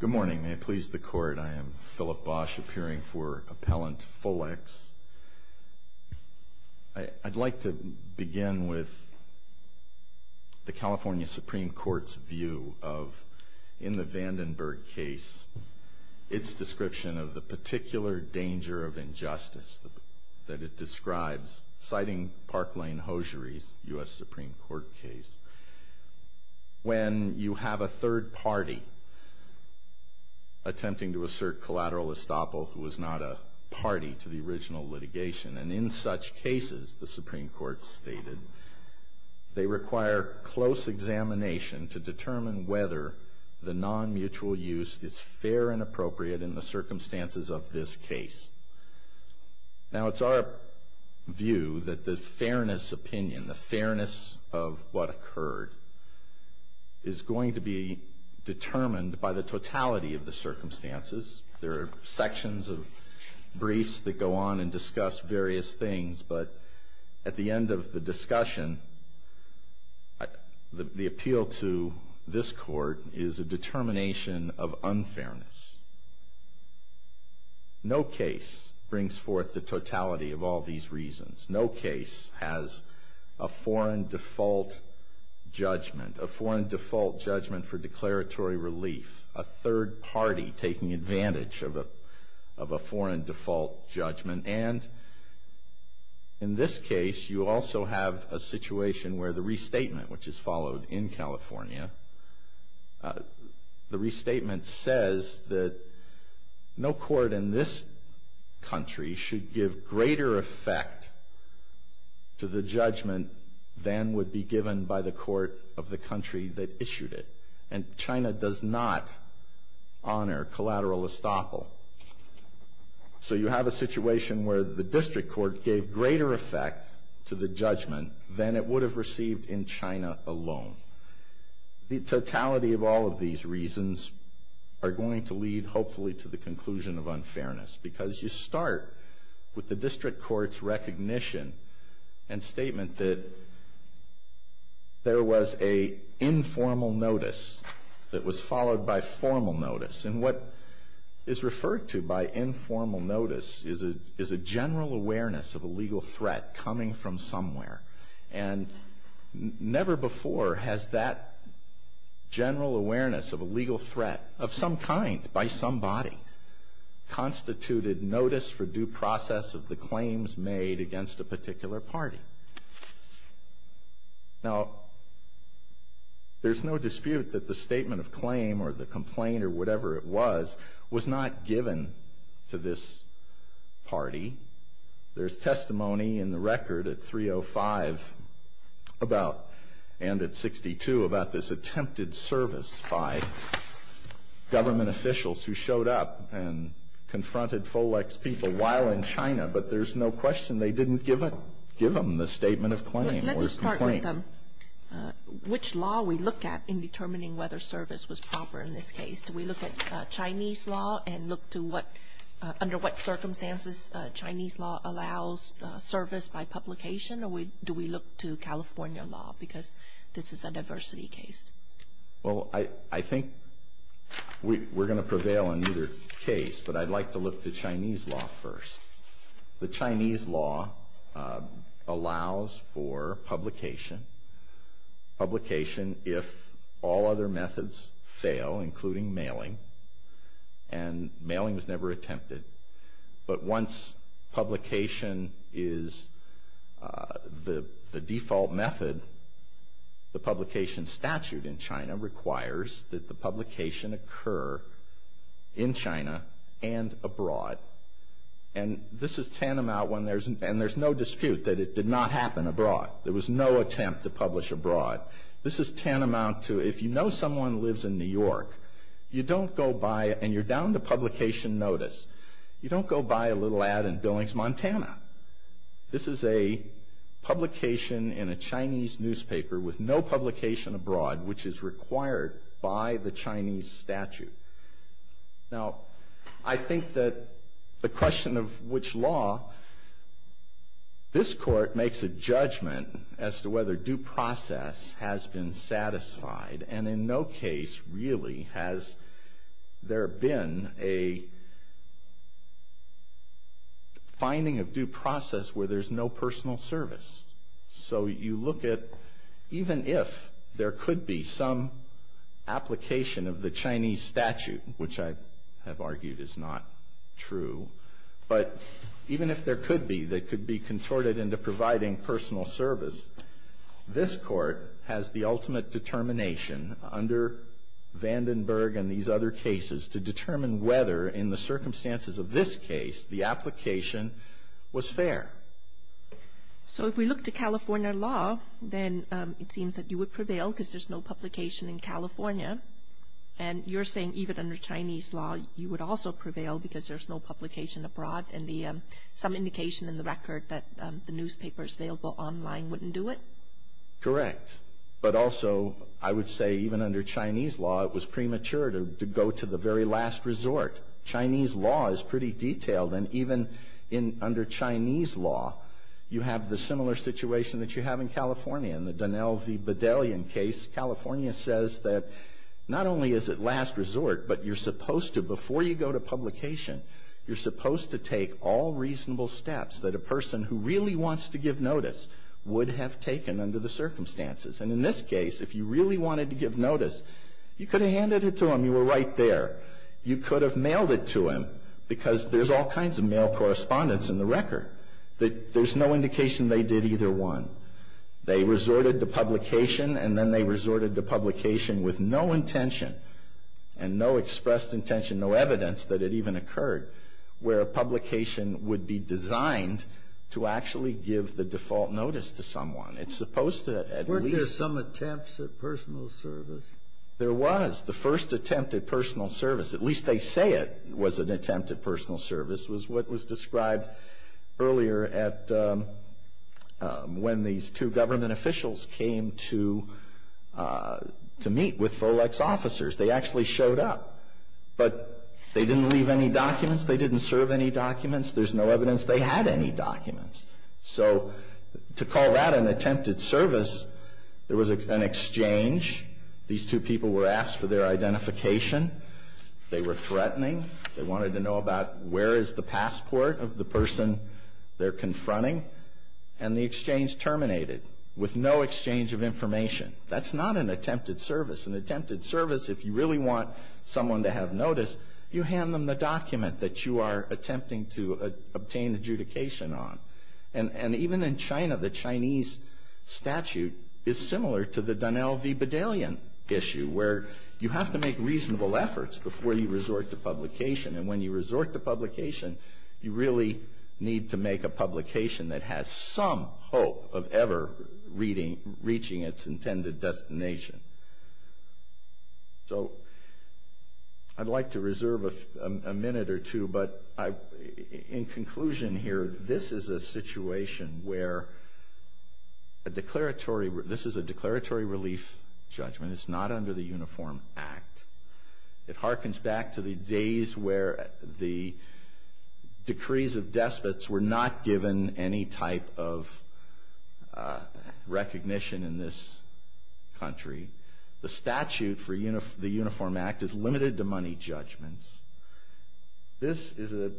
Good morning. May it please the Court, I am Philip Bosh, appearing for Appellant Folex. I'd like to begin with the California Supreme Court's view of, in the Vandenberg case, its description of the particular danger of injustice that it describes, citing Park Lane Hosiery's U.S. Supreme Court case. When you have a third party attempting to assert collateral estoppel who is not a party to the original litigation, and in such cases, the Supreme Court stated, they require close examination to determine whether the non-mutual use is fair and appropriate in the circumstances of this case. Now, it's our view that the fairness opinion, the fairness of what occurred, is going to be determined by the totality of the circumstances. There are sections of briefs that go on and discuss various things, but at the end of the discussion, the appeal to this Court is a determination of unfairness. No case brings forth the totality of all these reasons. No case has a foreign default judgment, a foreign default judgment for declaratory relief, a third party taking advantage of a foreign default judgment, and in this case, you also have a situation where the restatement, which is followed in California, the restatement says that no court in this country should give greater effect to the judgment than would be given by the court of the country that issued it. And China does not honor collateral estoppel. So you have a situation where the district court gave greater effect to the judgment than it would have received in China alone. The totality of all of these reasons are going to lead, hopefully, to the conclusion of unfairness because you start with the district court's recognition and statement that there was an informal notice that was followed by formal notice. And what is referred to by informal notice is a general awareness of a legal threat coming from somewhere. And never before has that general awareness of a legal threat of some kind by somebody constituted notice for due process of the claims made against a particular party. Now, there's no dispute that the statement of claim or the complaint or whatever it was was not given to this party. There's testimony in the record at 305 and at 62 about this attempted service by government officials who showed up and confronted FOLEX people while in China. But there's no question they didn't give them the statement of claim or complaint. Let me start with which law we look at in determining whether service was proper in this case. Do we look at Chinese law and look to under what circumstances Chinese law allows service by publication? Or do we look to California law because this is a diversity case? Well, I think we're going to prevail in either case. But I'd like to look to Chinese law first. The Chinese law allows for publication, publication if all other methods fail, including mailing. And mailing was never attempted. But once publication is the default method, the publication statute in China requires that the publication occur in China and abroad. And this is tantamount when there's no dispute that it did not happen abroad. There was no attempt to publish abroad. This is tantamount to if you know someone lives in New York, you don't go by and you're down to publication notice, you don't go by a little ad in Billings, Montana. This is a publication in a Chinese newspaper with no publication abroad, which is required by the Chinese statute. Now, I think that the question of which law, this court makes a judgment as to whether due process has been satisfied. And in no case really has there been a finding of due process where there's no personal service. So you look at even if there could be some application of the Chinese statute, which I have argued is not true, but even if there could be, that could be contorted into providing personal service, this court has the ultimate determination under Vandenberg and these other cases to determine whether in the circumstances of this case the application was fair. So if we look to California law, then it seems that you would prevail because there's no publication in California. And you're saying even under Chinese law you would also prevail because there's no publication abroad. And some indication in the record that the newspapers available online wouldn't do it? Correct. But also I would say even under Chinese law it was premature to go to the very last resort. Chinese law is pretty detailed. And even under Chinese law you have the similar situation that you have in California. In the Donnell v. Bedellian case, California says that not only is it last resort, but you're supposed to, before you go to publication, you're supposed to take all reasonable steps that a person who really wants to give notice would have taken under the circumstances. And in this case, if you really wanted to give notice, you could have handed it to him. You were right there. You could have mailed it to him because there's all kinds of mail correspondence in the record. There's no indication they did either one. They resorted to publication and then they resorted to publication with no intention and no expressed intention, no evidence that it even occurred, where a publication would be designed to actually give the default notice to someone. It's supposed to at least... Weren't there some attempts at personal service? There was. The first attempt at personal service, at least they say it was an attempt at personal service, was what was described earlier at when these two government officials came to meet with FOLEX officers. They actually showed up, but they didn't leave any documents. They didn't serve any documents. There's no evidence they had any documents. So to call that an attempted service, there was an exchange. These two people were asked for their identification. They were threatening. They wanted to know about where is the passport of the person they're confronting, and the exchange terminated with no exchange of information. That's not an attempted service. An attempted service, if you really want someone to have notice, you hand them the document that you are attempting to obtain adjudication on. And even in China, the Chinese statute is similar to the Donnell v. Bedellian issue, where you have to make reasonable efforts before you resort to publication. And when you resort to publication, you really need to make a publication that has some hope of ever reaching its intended destination. So I'd like to reserve a minute or two, but in conclusion here, this is a situation where a declaratory relief judgment is not under the Uniform Act. It harkens back to the days where the decrees of despots were not given any type of recognition in this country. The statute for the Uniform Act is limited to money judgments. This is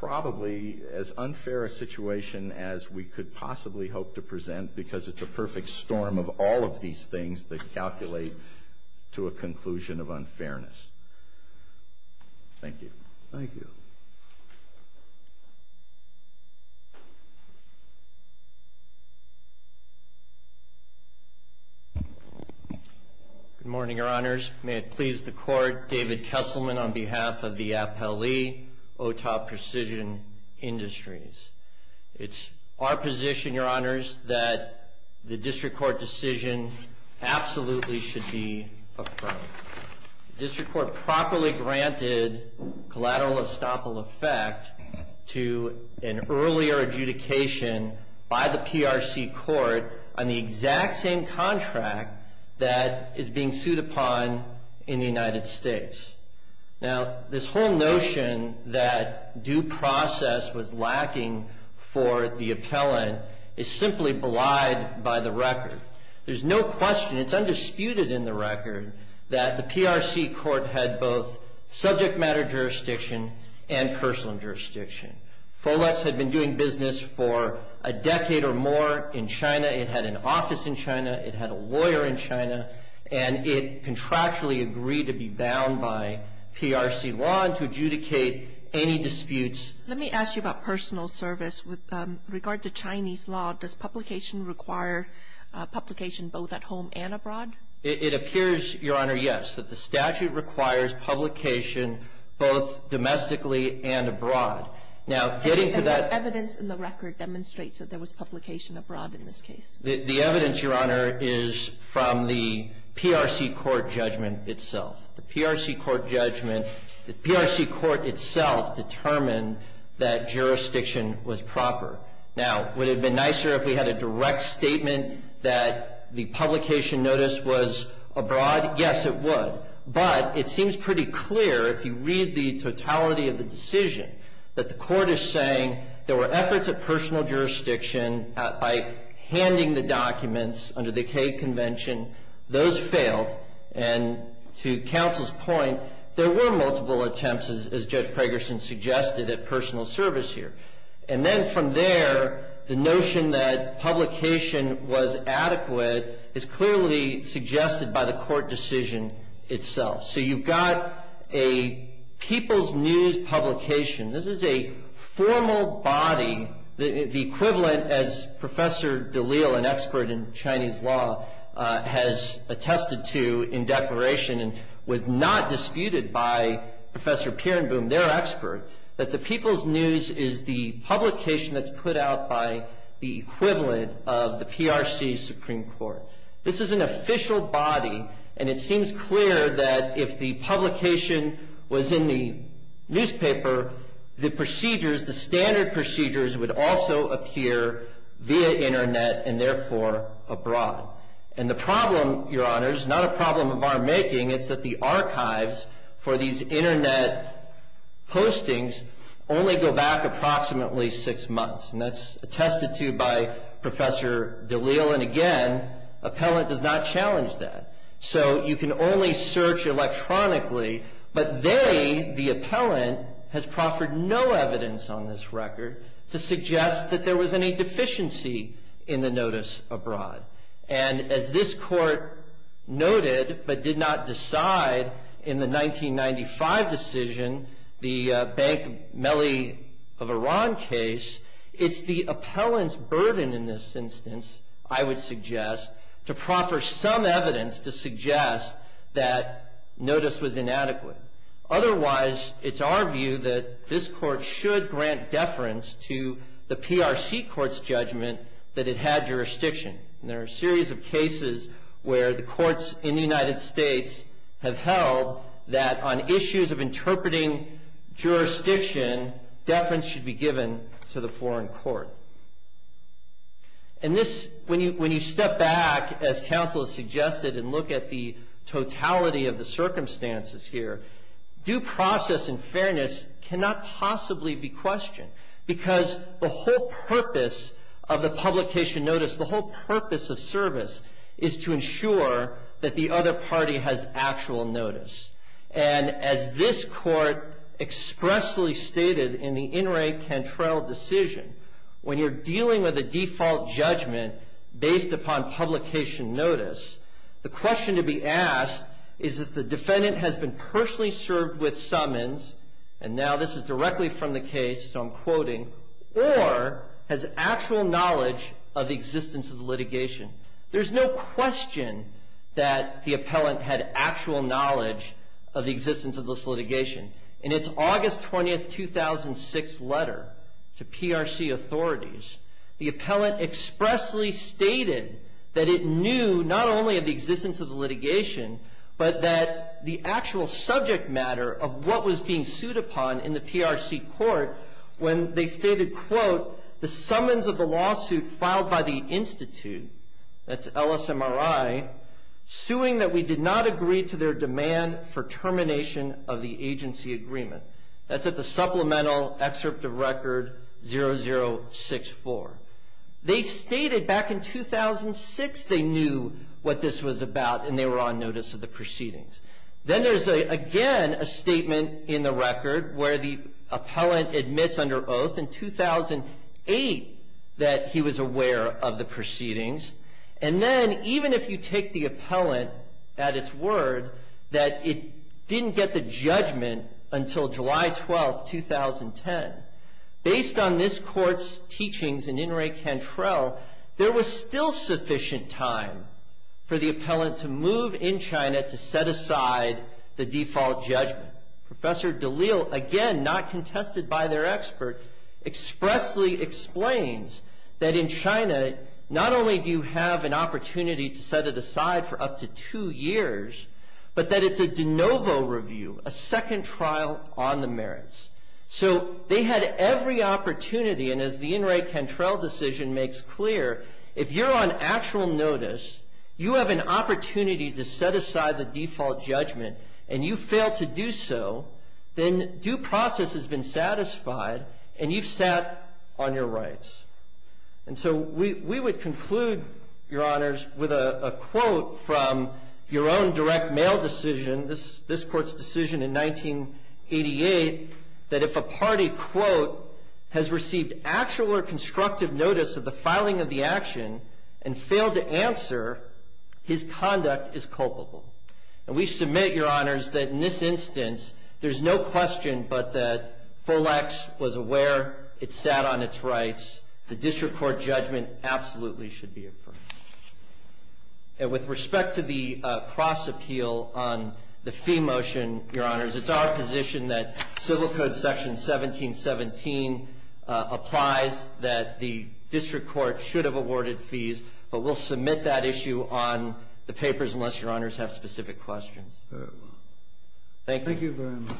probably as unfair a situation as we could possibly hope to present because it's a perfect storm of all of these things that calculate to a conclusion of unfairness. Thank you. Thank you. Good morning, Your Honors. May it please the Court, David Kesselman on behalf of the APLE, OTAP Precision Industries. It's our position, Your Honors, that the District Court decision absolutely should be affirmed. The District Court properly granted collateral estoppel effect to an earlier adjudication by the PRC Court on the exact same contract that is being sued upon in the United States. Now, this whole notion that due process was lacking for the appellant is simply belied by the record. There's no question, it's undisputed in the record, that the PRC Court had both subject matter jurisdiction and personal jurisdiction. Folex had been doing business for a decade or more in China. It had an office in China. It had a lawyer in China. And it contractually agreed to be bound by PRC law and to adjudicate any disputes. Let me ask you about personal service. With regard to Chinese law, does publication require publication both at home and abroad? It appears, Your Honor, yes, that the statute requires publication both domestically and abroad. Now, getting to that. And the evidence in the record demonstrates that there was publication abroad in this case. The evidence, Your Honor, is from the PRC Court judgment itself. The PRC Court judgment, the PRC Court itself determined that jurisdiction was proper. Now, would it have been nicer if we had a direct statement that the publication notice was abroad? Yes, it would. But it seems pretty clear, if you read the totality of the decision, that the court is saying there were efforts at personal jurisdiction by handing the documents under the Cade Convention. Those failed. And to counsel's point, there were multiple attempts, as Judge Fragerson suggested, at personal service here. And then from there, the notion that publication was adequate is clearly suggested by the court decision itself. So you've got a People's News publication. This is a formal body, the equivalent, as Professor DeLisle, an expert in Chinese law, has attested to in declaration and was not disputed by Professor Pirenboom, their expert, that the People's News is the publication that's put out by the equivalent of the PRC Supreme Court. This is an official body, and it seems clear that if the publication was in the newspaper, the procedures, the standard procedures would also appear via Internet and therefore abroad. And the problem, Your Honors, not a problem of our making, it's that the archives for these Internet postings only go back approximately six months. And that's attested to by Professor DeLisle. And again, appellant does not challenge that. So you can only search electronically. But they, the appellant, has proffered no evidence on this record to suggest that there was any deficiency in the notice abroad. And as this court noted but did not decide in the 1995 decision, the Bank Mele of Iran case, it's the appellant's burden in this instance, I would suggest, to proffer some evidence to suggest that notice was inadequate. Otherwise, it's our view that this court should grant deference to the PRC court's judgment that it had jurisdiction. And there are a series of cases where the courts in the United States have held that on issues of interpreting jurisdiction, deference should be given to the foreign court. And this, when you step back, as counsel suggested, and look at the totality of the circumstances here, due process and fairness cannot possibly be questioned. Because the whole purpose of the publication notice, the whole purpose of service, is to ensure that the other party has actual notice. And as this court expressly stated in the In re Cantrell decision, when you're dealing with a default judgment based upon publication notice, the question to be asked is if the defendant has been personally served with summons, and now this is directly from the case, so I'm quoting, or has actual knowledge of the existence of litigation. There's no question that the appellant had actual knowledge of the existence of this litigation. In its August 20th, 2006 letter to PRC authorities, the appellant expressly stated that it knew not only of the existence of litigation, but that the actual subject matter of what was being sued upon in the PRC court, when they stated, quote, the summons of the lawsuit filed by the institute, that's LSMRI, suing that we did not agree to their demand for termination of the agency agreement. That's at the supplemental excerpt of record 0064. They stated back in 2006 they knew what this was about, and they were on notice of the proceedings. Then there's again a statement in the record where the appellant admits under oath in 2008 that he was aware of the proceedings, and then even if you take the appellant at its word that it didn't get the judgment until July 12th, 2010, based on this court's teachings in In re Cantrell, there was still sufficient time for the appellant to move in China to set aside the default judgment. Professor Dalil, again not contested by their expert, expressly explains that in China, not only do you have an opportunity to set it aside for up to two years, but that it's a de novo review, a second trial on the merits. So they had every opportunity, and as the In re Cantrell decision makes clear, if you're on actual notice, you have an opportunity to set aside the default judgment, and you fail to do so, then due process has been satisfied, and you've sat on your rights. And so we would conclude, Your Honors, with a quote from your own direct mail decision, this court's decision in 1988, that if a party, quote, has received actual or constructive notice of the filing of the action and failed to answer, his conduct is culpable. And we submit, Your Honors, that in this instance, there's no question but that Folex was aware, it sat on its rights, the district court judgment absolutely should be affirmed. And with respect to the cross appeal on the fee motion, Your Honors, it's our position that Civil Code Section 1717 applies, that the district court should have awarded fees, but we'll submit that issue on the papers unless Your Honors have specific questions. Thank you very much.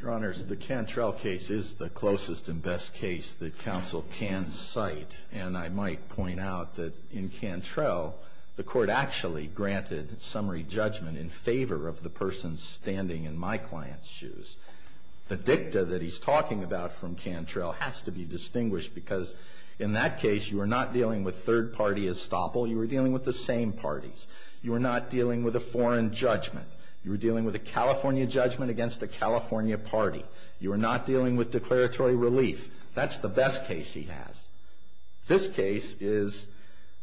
Your Honors, the Cantrell case is the closest and best case that counsel can cite, and I might point out that in Cantrell, the court actually granted summary judgment in favor of the person standing in my client's shoes. The dicta that he's talking about from Cantrell has to be distinguished because in that case you are not dealing with third party estoppel, you are dealing with the same parties. You are not dealing with a foreign judgment. You are dealing with a California judgment against a California party. You are not dealing with declaratory relief. That's the best case he has. This case is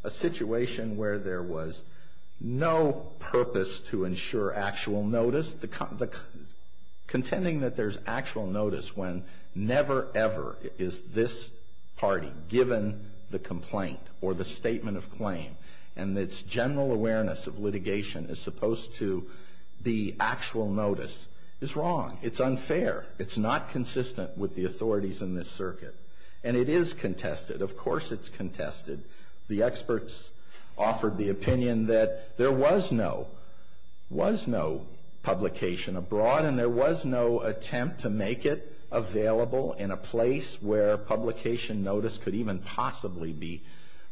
a situation where there was no purpose to ensure actual notice. Contending that there's actual notice when never ever is this party given the complaint or the statement of claim and its general awareness of litigation as opposed to the actual notice is wrong. It's unfair. It's not consistent with the authorities in this circuit, and it is contested. Of course it's contested. The experts offered the opinion that there was no publication abroad, and there was no attempt to make it available in a place where publication notice could even possibly be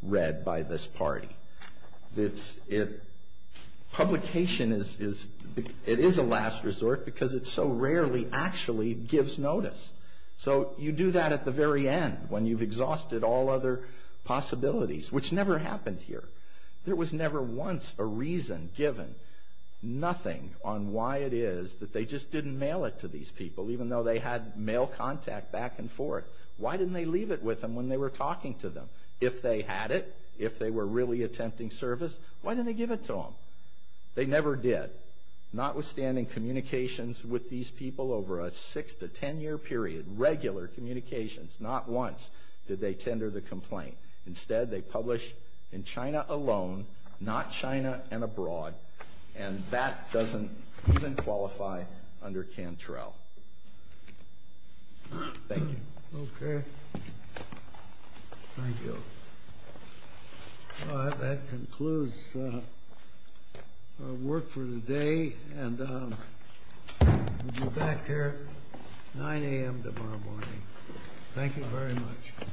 read by this party. Publication is a last resort because it so rarely actually gives notice. So you do that at the very end when you've exhausted all other possibilities, which never happened here. There was never once a reason given, nothing on why it is that they just didn't mail it to these people, even though they had mail contact back and forth. Why didn't they leave it with them when they were talking to them? If they had it, if they were really attempting service, why didn't they give it to them? They never did. Notwithstanding communications with these people over a six- to ten-year period, regular communications, not once did they tender the complaint. Instead, they published in China alone, not China and abroad, and that doesn't even qualify under Cantrell. Thank you. Okay. Thank you. Well, that concludes our work for today, and we'll be back here at 9 a.m. tomorrow morning. Thank you very much.